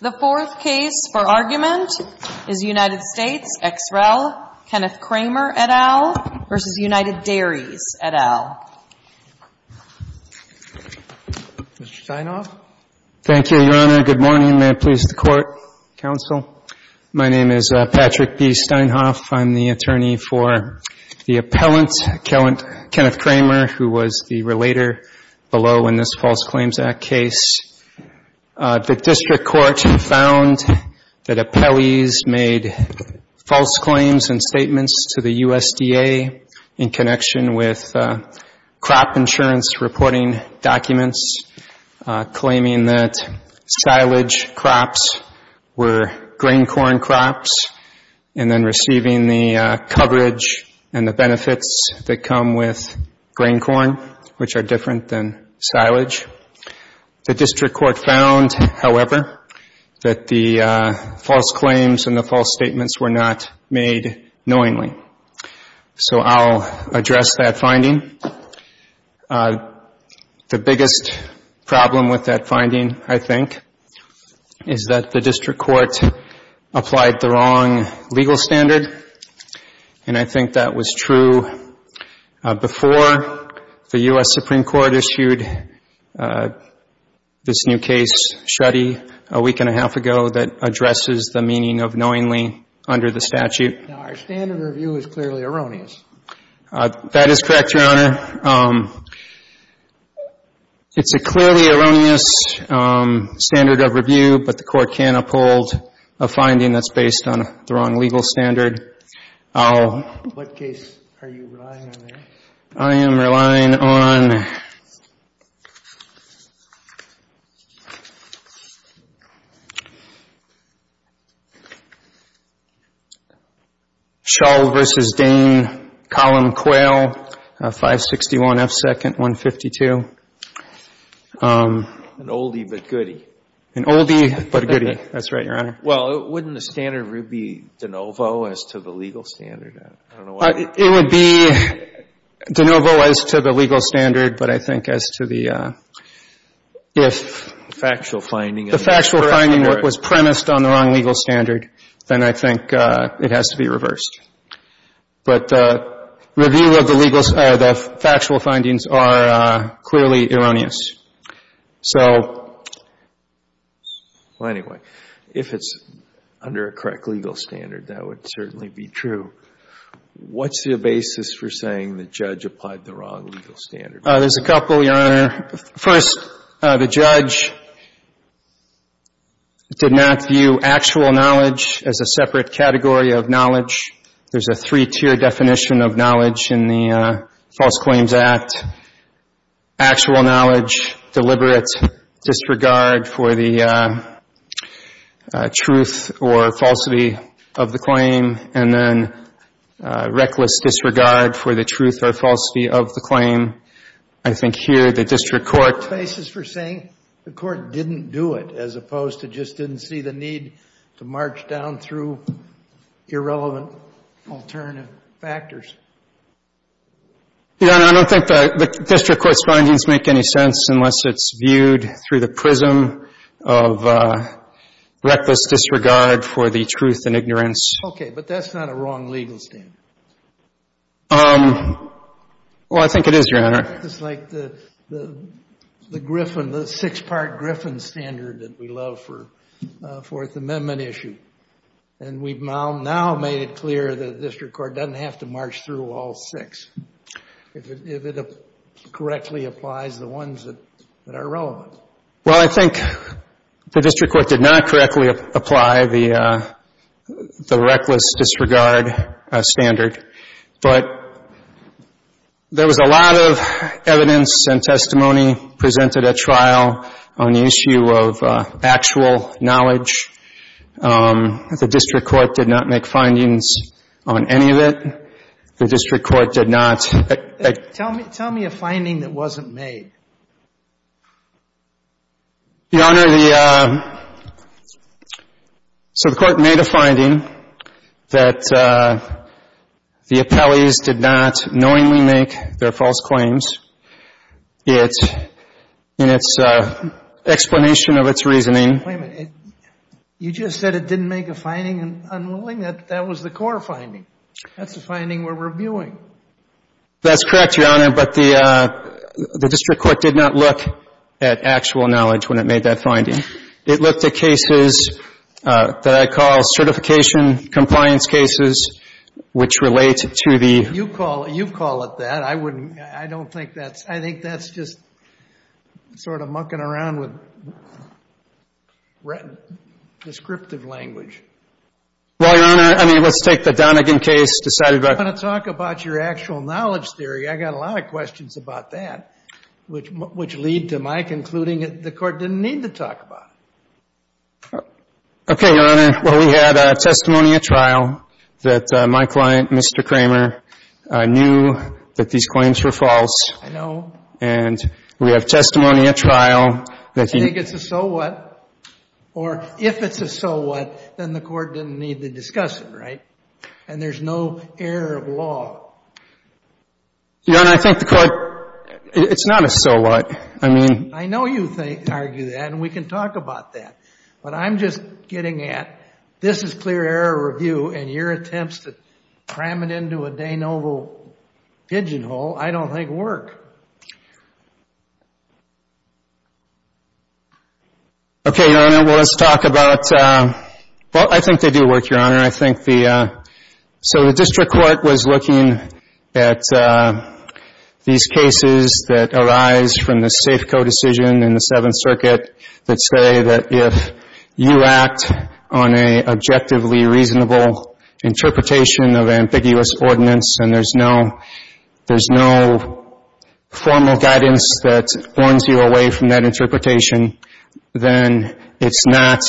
The fourth case for argument is United States ex rel., Kenneth Kraemer, et al., v. United Dairies, et al. Mr. Steinhoff? Thank you, Your Honor. Good morning. May it please the Court, Counsel. My name is Patrick B. Steinhoff. I'm the attorney for the appellant, Kenneth Kraemer, who was the relator below in this case. In this False Claims Act case, the district court found that appellees made false claims and statements to the USDA in connection with crop insurance reporting documents claiming that silage crops were grain corn crops and then receiving the coverage and the benefits that come with grain corn, which are different than silage. The district court found, however, that the false claims and the false statements were not made knowingly. So I'll address that finding. The biggest problem with that finding, I think, is that the district court applied the wrong legal standard, and I think that was true before the U.S. Supreme Court issued this new case, Shreddy, a week and a half ago that addresses the meaning of knowingly under the statute. Now, our standard review is clearly erroneous. That is correct, Your Honor. It's a clearly erroneous standard of review, but the Court can uphold a finding that's based on the wrong legal standard. What case are you relying on there? I am relying on Shull v. Dane, Column Quail, 561 F. 2nd, 152. An oldie but goodie. An oldie but a goodie. That's right, Your Honor. Well, wouldn't the standard review be de novo as to the legal standard? I don't know why. It would be de novo as to the legal standard, but I think as to the if the factual finding was premised on the wrong legal standard, then I think it has to be reversed. But the review of the factual findings are clearly erroneous. So, well, anyway, if it's under a correct legal standard, that would certainly be true. What's the basis for saying the judge applied the wrong legal standard? There's a couple, Your Honor. First, the judge did not view actual knowledge as a separate category of knowledge. There's a three-tier definition of knowledge in the False Claims Act. Actual knowledge, deliberate disregard for the truth or falsity of the claim, and then reckless disregard for the truth or falsity of the claim. I think here the district court — What's the basis for saying the court didn't do it, as opposed to just didn't see the need to march down through irrelevant alternative factors? Your Honor, I don't think the district court's findings make any sense unless it's viewed through the prism of reckless disregard for the truth and ignorance. Okay, but that's not a wrong legal standard. Well, I think it is, Your Honor. It's like the Griffin, the six-part Griffin standard that we love for a Fourth Amendment issue. And we've now made it clear that the district court doesn't have to march through all six if it correctly applies the ones that are relevant. Well, I think the district court did not correctly apply the reckless disregard standard. But there was a lot of evidence and testimony presented at trial on the issue of actual knowledge. The district court did not make findings on any of it. The district court did not. Tell me a finding that wasn't made. Your Honor, the, so the court made a finding that the appellees did not knowingly make their false claims. It, in its explanation of its reasoning. Wait a minute. You just said it didn't make a finding in unwilling. That was the core finding. That's the finding we're reviewing. That's correct, Your Honor. But the district court did not look at actual knowledge when it made that finding. It looked at cases that I call certification compliance cases which relate to the. You call it that. I wouldn't, I don't think that's, I think that's just sort of mucking around with descriptive language. Well, Your Honor, I mean, let's take the Donegan case decided by. I'm going to talk about your actual knowledge theory. I got a lot of questions about that, which lead to my concluding that the court didn't need to talk about it. Okay, Your Honor. Well, we had a testimony at trial that my client, Mr. Kramer, knew that these claims were false. I know. And we have testimony at trial that he. I think it's a so what. Or if it's a so what, then the court didn't need to discuss it, right? And there's no error of law. Your Honor, I think the court. It's not a so what. I mean. I know you argue that, and we can talk about that. But I'm just getting at, this is clear error review, and your attempts to cram it into a Danoville pigeonhole, I don't think work. Okay, Your Honor. Well, let's talk about. Well, I think they do work, Your Honor. I think the. So the district court was looking at these cases that arise from the Safeco decision in the Seventh Circuit that say that if you act on a objectively reasonable interpretation of ambiguous ordinance and there's no formal guidance that warns you away from that interpretation, then it's not,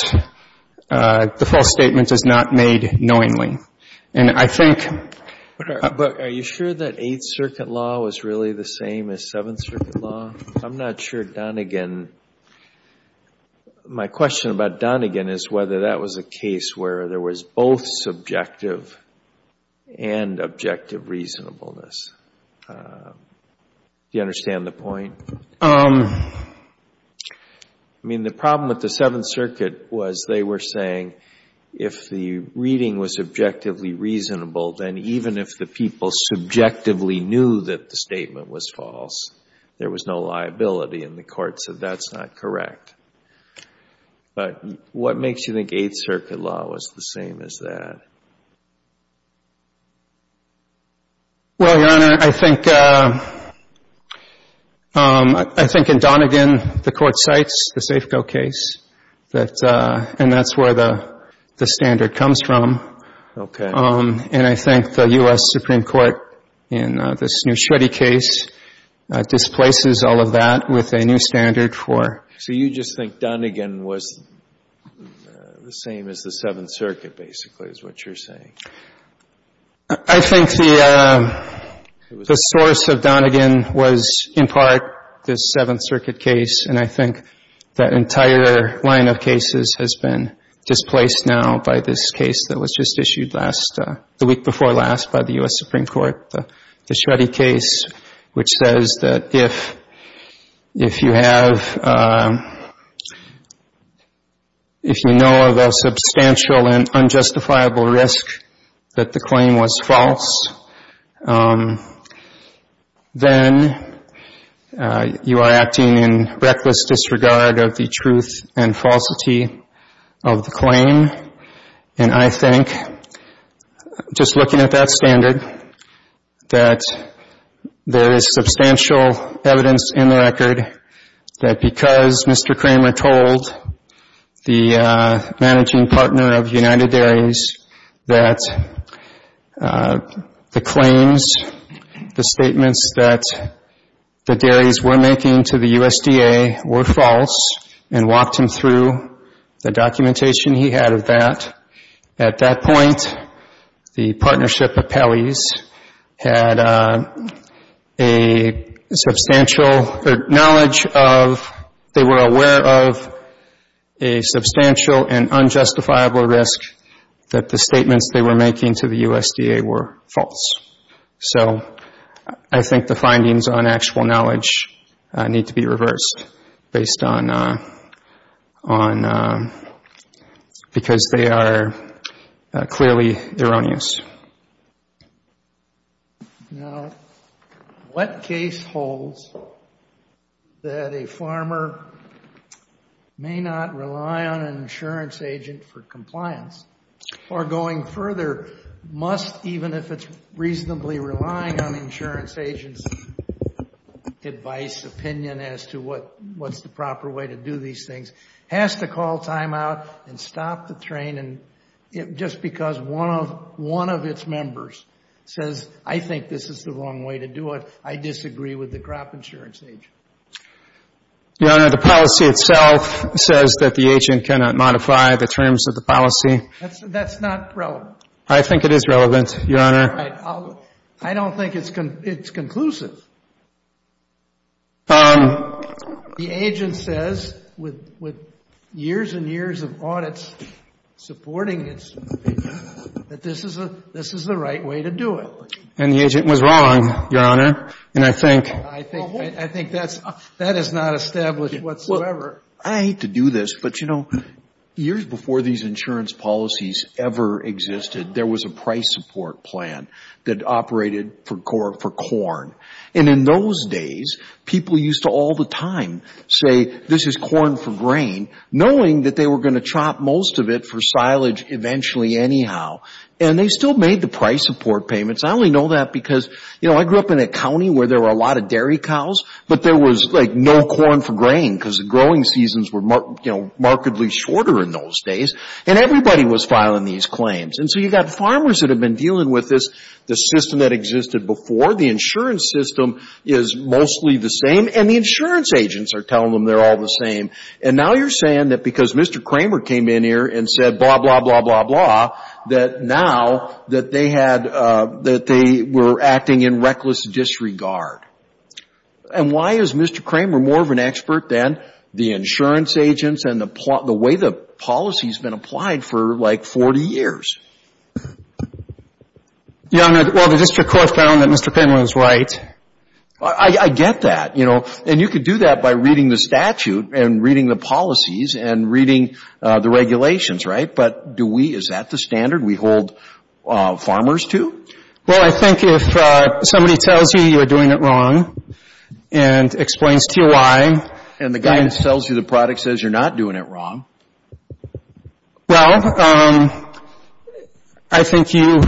the false statement is not made knowingly. And I think. But are you sure that Eighth Circuit law was really the same as Seventh Circuit law? I'm not sure Donegan. My question about Donegan is whether that was a case where there was both subjective and objective reasonableness. Do you understand the point? I mean, the problem with the Seventh Circuit was they were saying if the reading was subjectively reasonable, then even if the people subjectively knew that the statement was false, there was no liability in the court, so that's not correct. But what makes you think Eighth Circuit law was the same as that? Well, Your Honor, I think in Donegan, the court cites the Safeco case, and that's where the standard comes from. Okay. And I think the U.S. Supreme Court in this Neuschwede case displaces all of that with a new standard for. So you just think Donegan was the same as the Seventh Circuit, basically, is what you're saying? I think the source of Donegan was in part the Seventh Circuit case, and I think that entire line of cases has been displaced now by this case that was just issued last, the week before last, by the U.S. Supreme Court, the Neuschwede case, which says that if you know of a substantial and unjustifiable risk that the claim was false, then you are acting in reckless disregard of the truth and falsity of the claim. And I think, just looking at that standard, that there is substantial evidence in the record that because Mr. Kramer told the managing partner of United Dairies that the claims, the statements that the dairies were making to the USDA were false, and walked him through the documentation he had of that, at that point, the partnership of Pelley's had a substantial knowledge of, they were aware of a substantial and unjustifiable risk that the statements they were making to the USDA were false. So I think the findings on actual knowledge need to be reversed based on, because they are clearly erroneous. Now, what case holds that a farmer may not rely on an insurance agent for compliance, or going further, must, even if it's reasonably relying on the insurance agent's advice, opinion as to what's the proper way to do these things, has to call timeout and stop the train, and just because one of its members says, I think this is the wrong way to do it, I disagree with the crop insurance agent? Your Honor, the policy itself says that the agent cannot modify the terms of the policy. That's not relevant. I think it is relevant, Your Honor. I don't think it's conclusive. The agent says, with years and years of audits supporting this, that this is the right way to do it. And the agent was wrong, Your Honor, and I think that is not established whatsoever. I hate to do this, but, you know, years before these insurance policies ever existed, there was a price support plan that operated for corn. And in those days, people used to all the time say, this is corn for grain, knowing that they were going to chop most of it for silage eventually anyhow. And they still made the price support payments. I only know that because, you know, I grew up in a county where there were a lot of dairy cows, but there was, like, no corn for grain because the growing seasons were, you know, markedly shorter in those days, and everybody was filing these claims. And so you've got farmers that have been dealing with this, the system that existed before. The insurance system is mostly the same, and the insurance agents are telling them they're all the same. And now you're saying that because Mr. Kramer came in here and said, blah, blah, blah, blah, blah, that now that they had, that they were acting in reckless disregard. And why is Mr. Kramer more of an expert than the insurance agents and the way the policy has been applied for, like, 40 years? Your Honor, well, the district court found that Mr. Penland is right. I get that, you know. And you could do that by reading the statute and reading the policies and reading the regulations, right? But do we, is that the standard we hold farmers to? Well, I think if somebody tells you you're doing it wrong and explains to you why. And the guy that sells you the product says you're not doing it wrong. Well, I think you,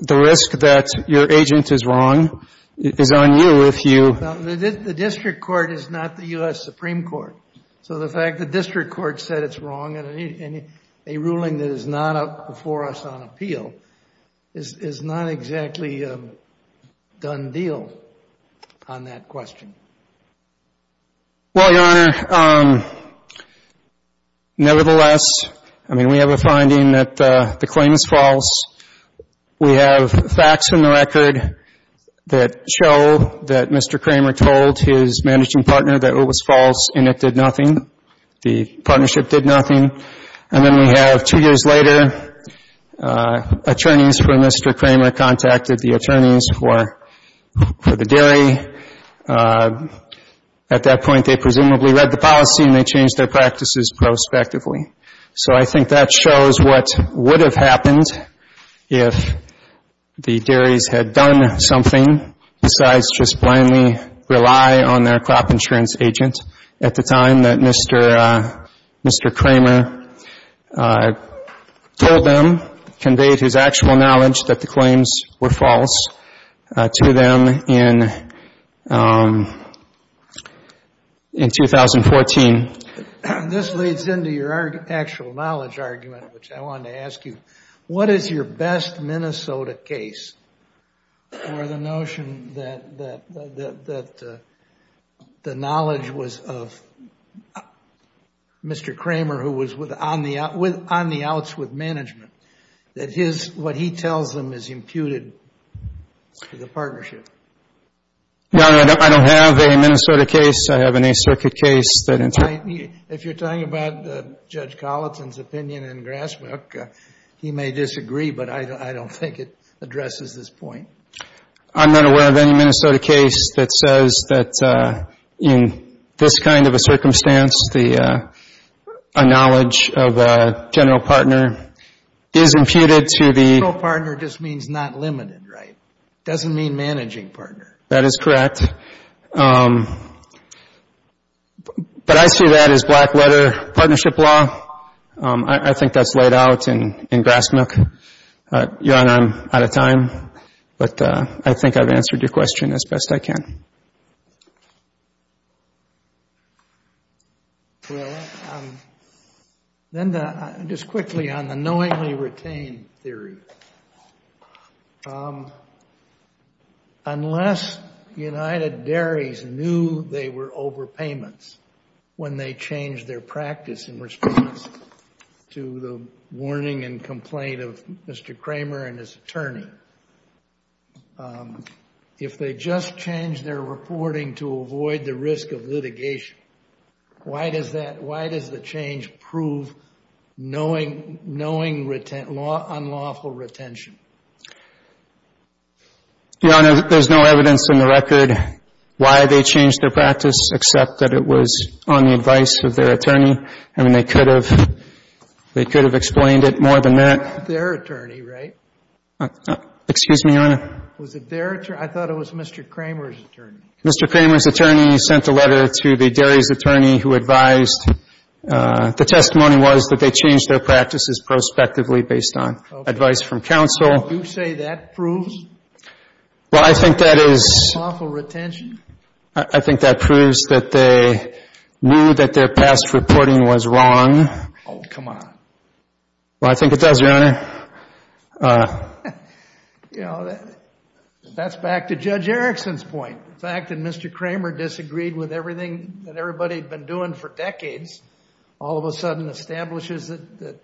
the risk that your agent is wrong is on you if you. The district court is not the U.S. Supreme Court. So the fact the district court said it's wrong in a ruling that is not up before us on appeal is not exactly a done deal on that question. Well, Your Honor, nevertheless, I mean, we have a finding that the claim is false. We have facts in the record that show that Mr. Kramer told his managing partner that it was false and it did nothing. The partnership did nothing. And then we have two years later, attorneys for Mr. Kramer contacted the attorneys for the dairy. At that point, they presumably read the policy and they changed their practices prospectively. So I think that shows what would have happened if the dairies had done something besides just blindly rely on their crop insurance agent at the time that Mr. Kramer told them, conveyed his actual knowledge that the claims were false to them in 2014. This leads into your actual knowledge argument, which I wanted to ask you. What is your best Minnesota case for the notion that the knowledge was of Mr. Kramer, who was on the outs with management, that what he tells them is imputed to the partnership? Your Honor, I don't have a Minnesota case. I have an Eighth Circuit case. If you're talking about Judge Colleton's opinion in Grassbrook, he may disagree, but I don't think it addresses this point. I'm not aware of any Minnesota case that says that in this kind of a circumstance, a knowledge of a general partner is imputed to the General partner just means not limited, right? It doesn't mean managing partner. That is correct. But I see that as black leather partnership law. I think that's laid out in Grassbrook. Your Honor, I'm out of time, but I think I've answered your question as best I can. Well, then just quickly on the knowingly retained theory. Unless United Dairies knew they were over payments when they changed their practice in response to the warning and complaint of Mr. Kramer and his attorney, if they just changed their reporting to avoid the risk of litigation, why does the change prove unlawful retention? Your Honor, there's no evidence in the record why they changed their practice except that it was on the advice of their attorney. I mean, they could have explained it more than that. It was their attorney, right? Excuse me, Your Honor. Was it their attorney? I thought it was Mr. Kramer's attorney. Mr. Kramer's attorney sent a letter to the dairies' attorney who advised. The testimony was that they changed their practices prospectively based on advice from counsel. Do you say that proves unlawful retention? I think that proves that they knew that their past reporting was wrong. Oh, come on. Well, I think it does, Your Honor. You know, that's back to Judge Erickson's point. The fact that Mr. Kramer disagreed with everything that everybody had been doing for decades all of a sudden establishes that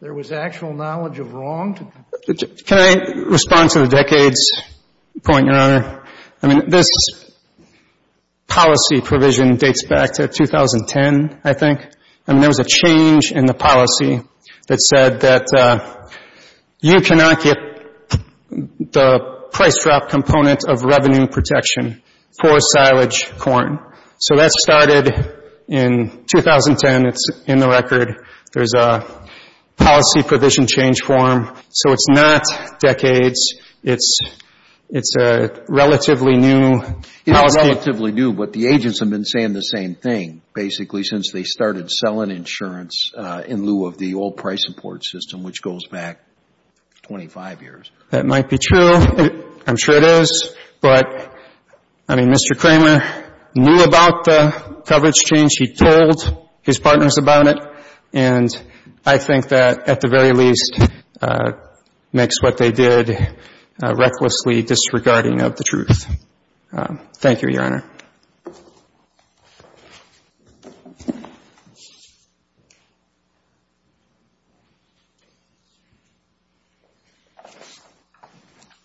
there was actual knowledge of wrong? Can I respond to the decades point, Your Honor? I mean, this policy provision dates back to 2010, I think. I mean, there was a change in the policy that said that you cannot get the price drop component of revenue protection for silage corn. So that started in 2010. It's in the record. There's a policy provision change form. So it's not decades. It's a relatively new policy. Relatively new, but the agents have been saying the same thing, basically, since they started selling insurance in lieu of the old price import system, which goes back 25 years. That might be true. I'm sure it is. But, I mean, Mr. Kramer knew about the coverage change. He told his partners about it. And I think that, at the very least, makes what they did recklessly disregarding of the truth. Thank you, Your Honor.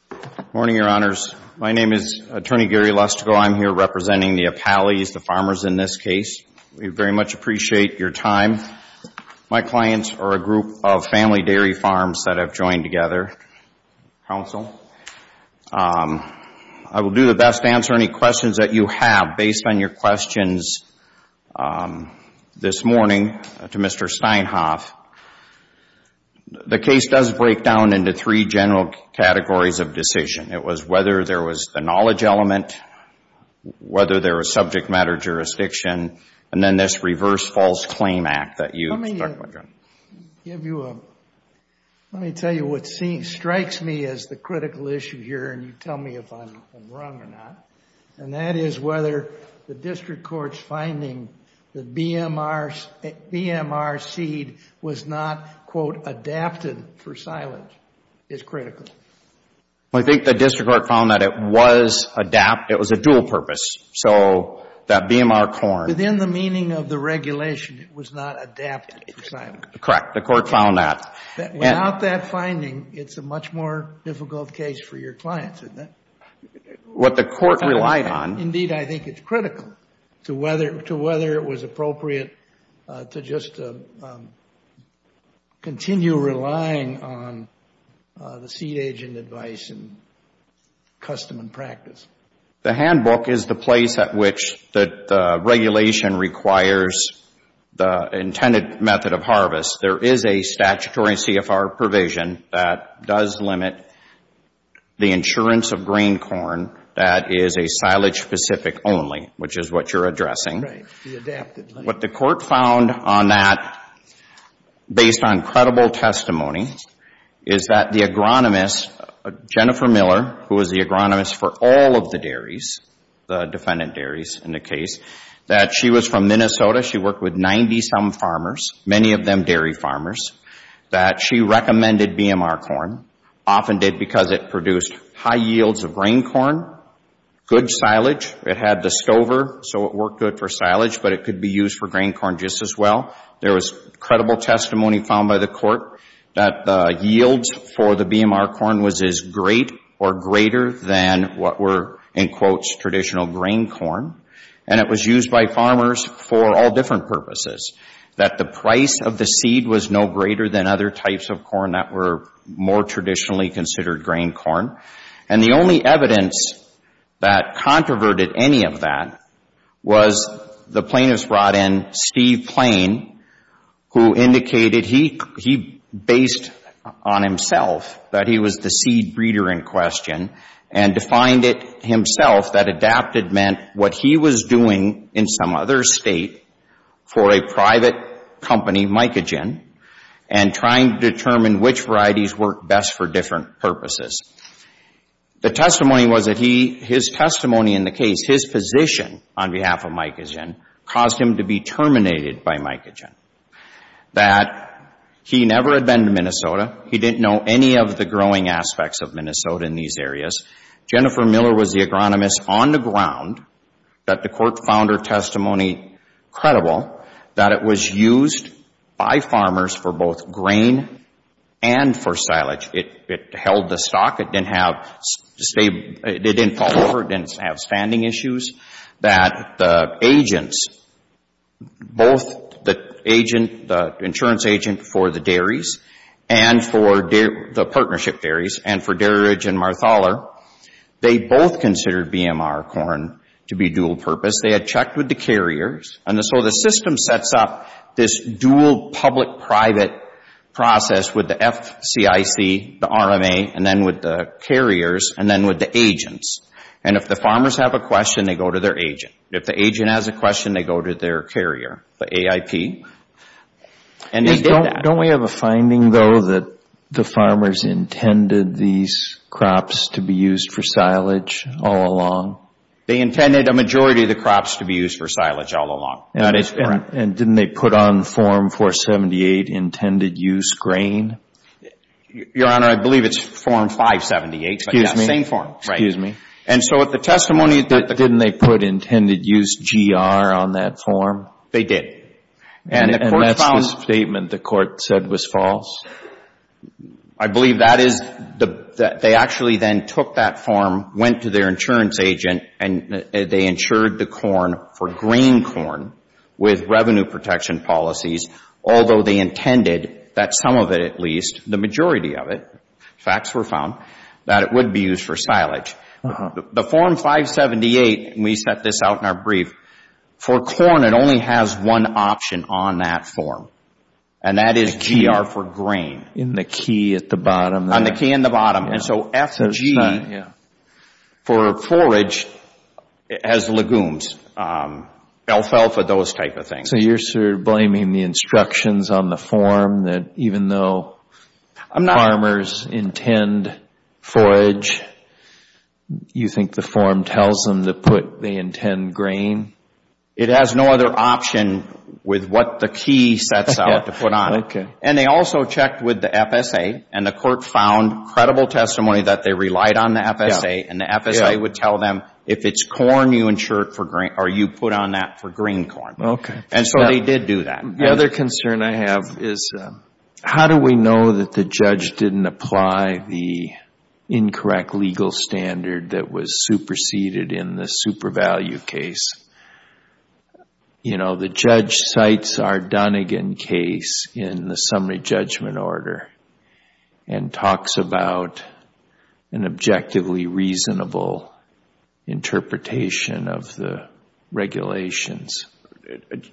Good morning, Your Honors. My name is Attorney Gary Lustig. I'm here representing the Apalis, the farmers in this case. We very much appreciate your time. My clients are a group of family dairy farms that have joined together. Counsel, I will do the best to answer any questions that you have based on your questions this morning to Mr. Steinhoff. The case does break down into three general categories of decision. It was whether there was the knowledge element, whether there was subject matter jurisdiction, and then this reverse false claim act that you spoke about. Let me tell you what strikes me as the critical issue here, and you tell me if I'm wrong or not, and that is whether the district court's finding that BMR seed was not, quote, adapted for silage is critical. I think the district court found that it was adapt. It was a dual purpose. So that BMR corn. Within the meaning of the regulation, it was not adapted for silage. Correct. The court found that. Without that finding, it's a much more difficult case for your clients, isn't it? What the court relied on. Indeed, I think it's critical to whether it was appropriate to just continue relying on the seed agent advice and custom and practice. The handbook is the place at which the regulation requires the intended method of harvest. There is a statutory CFR provision that does limit the insurance of grain corn that is a silage specific only, which is what you're addressing. Right. The adapted. What the court found on that, based on credible testimony, is that the agronomist, Jennifer Miller, who was the agronomist for all of the dairies, the defendant dairies in the case, that she was from Minnesota. She worked with 90-some farmers, many of them dairy farmers, that she recommended BMR corn, often did because it produced high yields of grain corn, good silage. It had the stover, so it worked good for silage, but it could be used for grain corn just as well. There was credible testimony found by the court that the yields for the BMR corn was as great or greater than what were, in quotes, traditional grain corn. And it was used by farmers for all different purposes. That the price of the seed was no greater than other types of corn that were more traditionally considered grain corn. And the only evidence that controverted any of that was the plaintiff's brought in, Steve Plain, who indicated he based on himself, that he was the seed breeder in question, and defined it himself that adapted meant what he was doing in some other state for a private company, and trying to determine which varieties worked best for different purposes. The testimony was that he, his testimony in the case, his position on behalf of mycogen, caused him to be terminated by mycogen. That he never had been to Minnesota, he didn't know any of the growing aspects of Minnesota in these areas. Jennifer Miller was the agronomist on the ground that the court found her testimony credible, that it was used by farmers for both grain and for silage. It held the stock, it didn't have, it didn't fall over, it didn't have standing issues. That the agents, both the agent, the insurance agent for the dairies, and for the partnership dairies, and for Dairidge and Marthaler, they both considered BMR corn to be dual purpose. They had checked with the carriers, and so the system sets up this dual public-private process with the FCIC, the RMA, and then with the carriers, and then with the agents. And if the farmers have a question, they go to their agent. If the agent has a question, they go to their carrier, the AIP, and they did that. Don't we have a finding, though, that the farmers intended these crops to be used for silage all along? They intended a majority of the crops to be used for silage all along. And didn't they put on Form 478 intended use grain? Your Honor, I believe it's Form 578. Excuse me. Same form. Excuse me. And so with the testimony that the court found. Didn't they put intended use GR on that form? They did. And that's the statement the court said was false? I believe that is, they actually then took that form, went to their insurance agent, and they insured the corn for grain corn with revenue protection policies, although they intended that some of it at least, the majority of it, facts were found, that it would be used for silage. The Form 578, and we set this out in our brief, for corn it only has one option on that form. And that is GR for grain. In the key at the bottom. On the key in the bottom. And so F and G for forage has legumes, alfalfa, those type of things. So you're sort of blaming the instructions on the form that even though farmers intend forage, you think the form tells them to put the intended grain? It has no other option with what the key sets out to put on it. Okay. And they also checked with the FSA, and the court found credible testimony that they relied on the FSA, and the FSA would tell them if it's corn you put on that for grain corn. Okay. And so they did do that. The other concern I have is how do we know that the judge didn't apply the incorrect legal standard that was superseded in the super value case? You know, the judge cites our Dunagan case in the summary judgment order and talks about an objectively reasonable interpretation of the regulations.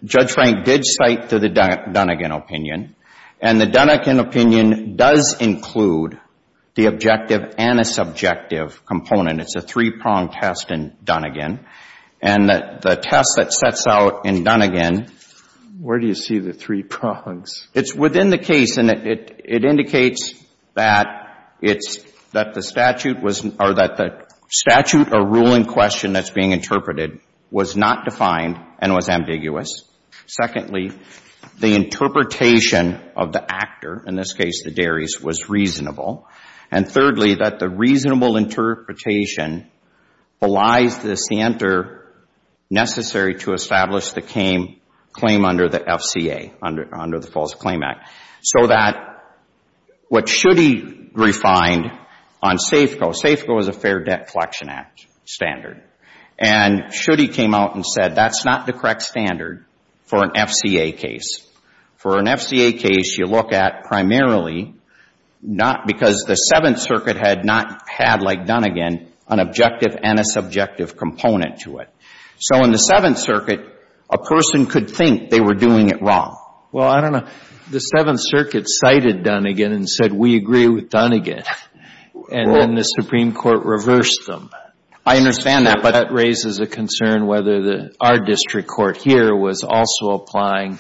Judge Frank did cite the Dunagan opinion, and the Dunagan opinion does include the objective and a subjective component. It's a three-pronged test in Dunagan. And the test that sets out in Dunagan. Where do you see the three prongs? It's within the case, and it indicates that the statute or rule in question that's being interpreted was not defined and was ambiguous. Secondly, the interpretation of the actor, in this case the dairies, was reasonable. And thirdly, that the reasonable interpretation belies the center necessary to establish the claim under the FCA, under the False Claim Act. So that what Schutte refined on SAFCO, SAFCO is a Fair Debt Collection Act standard, and Schutte came out and said that's not the correct standard for an FCA case. For an FCA case, you look at primarily not because the Seventh Circuit had not had, like Dunagan, an objective and a subjective component to it. So in the Seventh Circuit, a person could think they were doing it wrong. Well, I don't know. The Seventh Circuit cited Dunagan and said, we agree with Dunagan. And then the Supreme Court reversed them. I understand that, but that raises a concern whether our district court here was also applying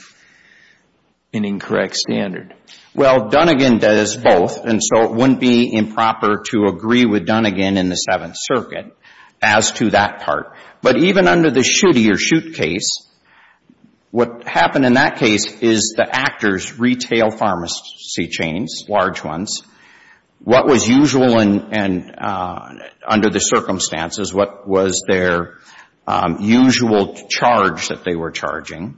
an incorrect standard. Well, Dunagan does both, and so it wouldn't be improper to agree with Dunagan in the Seventh Circuit as to that part. But even under the Schutte or Schutte case, what happened in that case is the actors retail pharmacy chains, large ones. What was usual and under the circumstances, what was their usual charge that they were charging?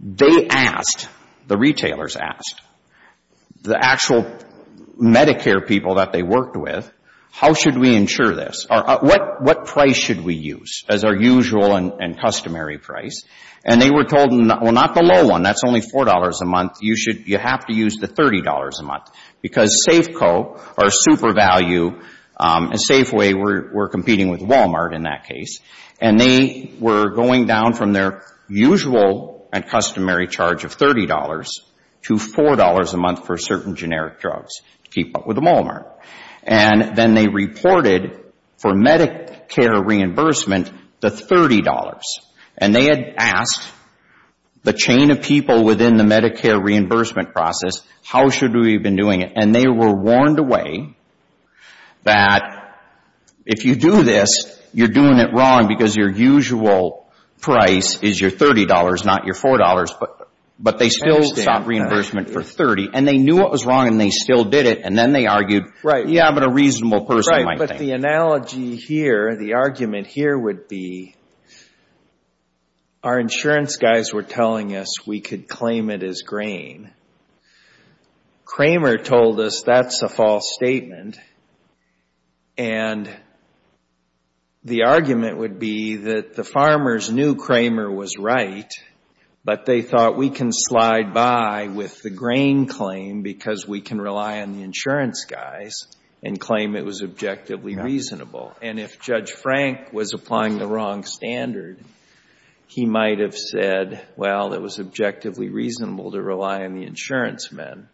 They asked, the retailers asked, the actual Medicare people that they worked with, how should we insure this? What price should we use as our usual and customary price? And they were told, well, not the low one. That's only $4 a month. You have to use the $30 a month because Safeco, our super value, and Safeway were competing with Walmart in that case. And they were going down from their usual and customary charge of $30 to $4 a month for certain generic drugs to keep up with Walmart. And then they reported for Medicare reimbursement the $30. And they had asked the chain of people within the Medicare reimbursement process, how should we be doing it? And they were warned away that if you do this, you're doing it wrong because your usual price is your $30, not your $4. But they still sought reimbursement for $30. And they knew what was wrong, and they still did it. And then they argued, yeah, but a reasonable person might think. So the analogy here, the argument here would be our insurance guys were telling us we could claim it as grain. Kramer told us that's a false statement. And the argument would be that the farmers knew Kramer was right, but they thought we can slide by with the grain claim because we can rely on the insurance guys and claim it was objectively reasonable. And if Judge Frank was applying the wrong standard, he might have said, well, it was objectively reasonable to rely on the insurance men,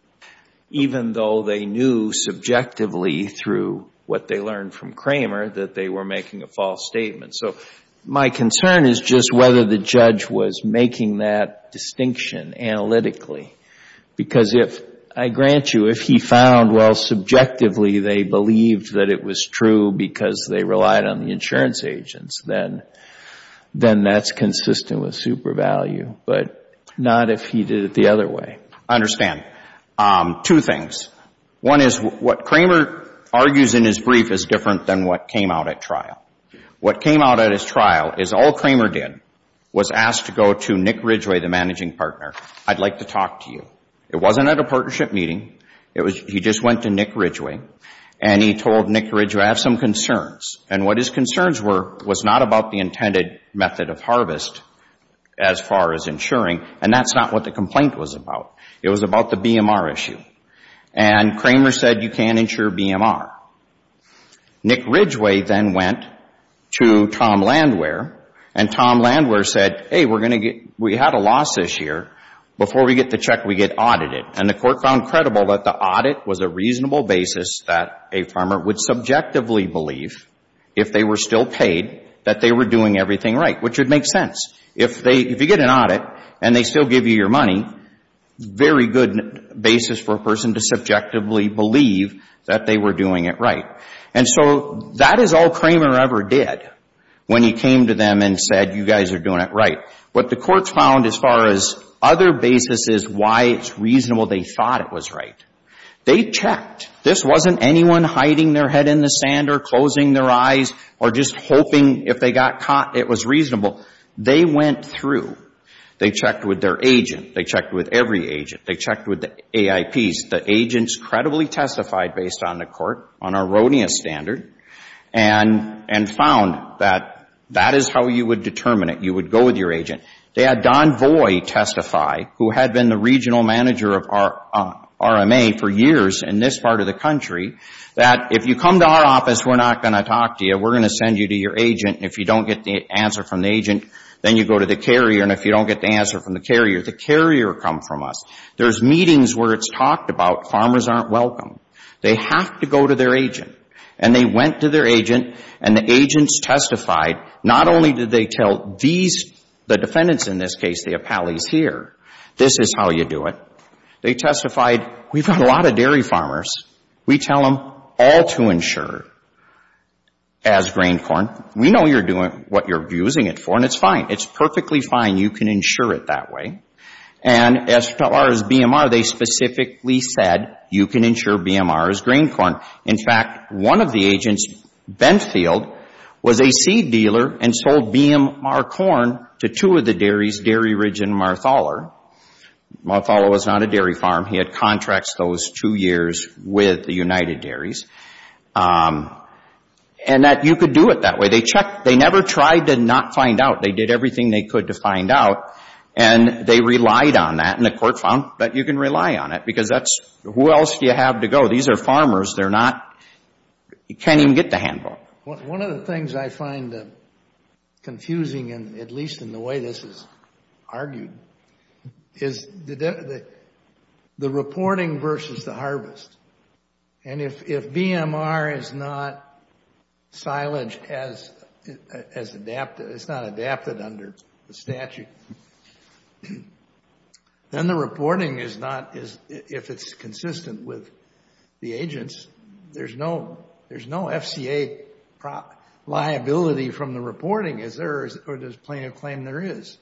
even though they knew subjectively through what they learned from Kramer that they were making a false statement. So my concern is just whether the judge was making that distinction analytically. Because if, I grant you, if he found, well, subjectively they believed that it was true because they relied on the insurance agents, then that's consistent with super value, but not if he did it the other way. I understand. Two things. One is what Kramer argues in his brief is different than what came out at trial. What came out at his trial is all Kramer did was ask to go to Nick Ridgway, the managing partner. I'd like to talk to you. It wasn't at a partnership meeting. He just went to Nick Ridgway, and he told Nick Ridgway, I have some concerns. And what his concerns were was not about the intended method of harvest as far as insuring, and that's not what the complaint was about. It was about the BMR issue. And Kramer said you can't insure BMR. Nick Ridgway then went to Tom Landwehr, and Tom Landwehr said, hey, we had a loss this year. Before we get the check, we get audited. And the court found credible that the audit was a reasonable basis that a farmer would subjectively believe, if they were still paid, that they were doing everything right, which would make sense. If you get an audit and they still give you your money, very good basis for a person to subjectively believe that they were doing it right. And so that is all Kramer ever did when he came to them and said you guys are doing it right. What the courts found as far as other basis is why it's reasonable they thought it was right. They checked. This wasn't anyone hiding their head in the sand or closing their eyes or just hoping if they got caught it was reasonable. They went through. They checked with their agent. They checked with every agent. They checked with the AIPs. The agents credibly testified based on the court, on a Ronia standard, and found that that is how you would determine it. You would go with your agent. They had Don Voy testify, who had been the regional manager of RMA for years in this part of the country, that if you come to our office, we're not going to talk to you. We're going to send you to your agent. If you don't get the answer from the agent, then you go to the carrier. And if you don't get the answer from the carrier, the carrier come from us. There's meetings where it's talked about. Farmers aren't welcome. They have to go to their agent. And they went to their agent, and the agents testified. Not only did they tell these, the defendants in this case, the appellees here, this is how you do it. They testified, we've got a lot of dairy farmers. We tell them all to insure as grain corn. We know what you're using it for, and it's fine. You can insure it that way. And as far as BMR, they specifically said, you can insure BMR as grain corn. In fact, one of the agents, Benfield, was a seed dealer and sold BMR corn to two of the dairies, Dairy Ridge and Marthaler. Marthaler was not a dairy farm. He had contracts those two years with the United Dairies. And that you could do it that way. They never tried to not find out. They did everything they could to find out, and they relied on that. And the court found that you can rely on it, because that's, who else do you have to go? These are farmers. They're not, you can't even get the handbook. One of the things I find confusing, at least in the way this is argued, is the reporting versus the harvest. And if BMR is not silage, it's not adapted under the statute, then the reporting is not, if it's consistent with the agents, there's no FCA liability from the reporting, or does plaintiff claim there is?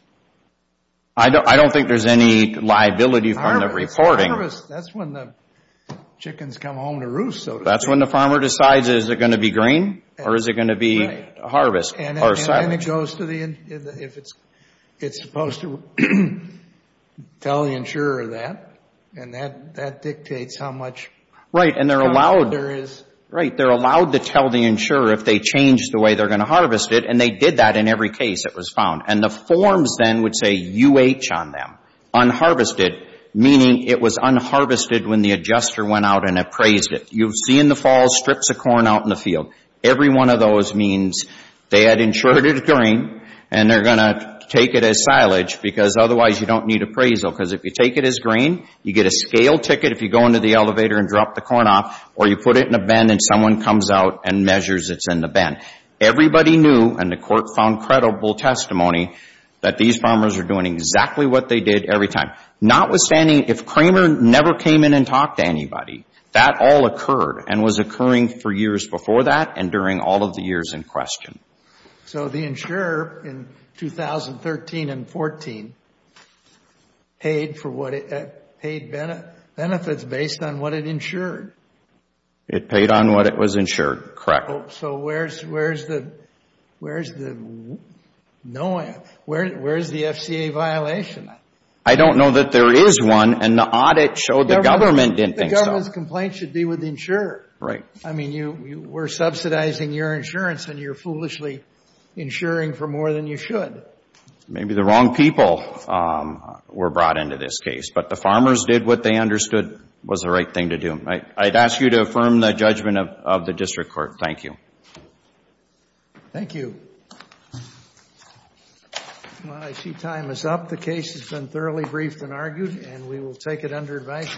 I don't think there's any liability from the reporting. That's when the chickens come home to roost, so to speak. That's when the farmer decides is it going to be green, or is it going to be harvest, or silage. And then it goes to the, if it's supposed to tell the insurer that, and that dictates how much silage there is. Right, and they're allowed to tell the insurer if they change the way they're going to harvest it, and they did that in every case it was found. And the forms then would say UH on them. Unharvested, meaning it was unharvested when the adjuster went out and appraised it. You've seen the fall strips of corn out in the field. Every one of those means they had insured it as green, and they're going to take it as silage, because otherwise you don't need appraisal. Because if you take it as green, you get a scale ticket if you go into the elevator and drop the corn off, or you put it in a bin and someone comes out and measures it's in the bin. And everybody knew, and the court found credible testimony, that these farmers are doing exactly what they did every time. Notwithstanding, if Kramer never came in and talked to anybody, that all occurred, and was occurring for years before that and during all of the years in question. So the insurer in 2013 and 14 paid benefits based on what it insured. It paid on what it was insured, correct. So where's the FCA violation? I don't know that there is one, and the audit showed the government didn't think so. The government's complaint should be with the insurer. Right. I mean, we're subsidizing your insurance, and you're foolishly insuring for more than you should. Maybe the wrong people were brought into this case, but the farmers did what they understood was the right thing to do. I'd ask you to affirm the judgment of the district court. Thank you. Thank you. Well, I see time is up. The case has been thoroughly briefed and argued, and we will take it under advice.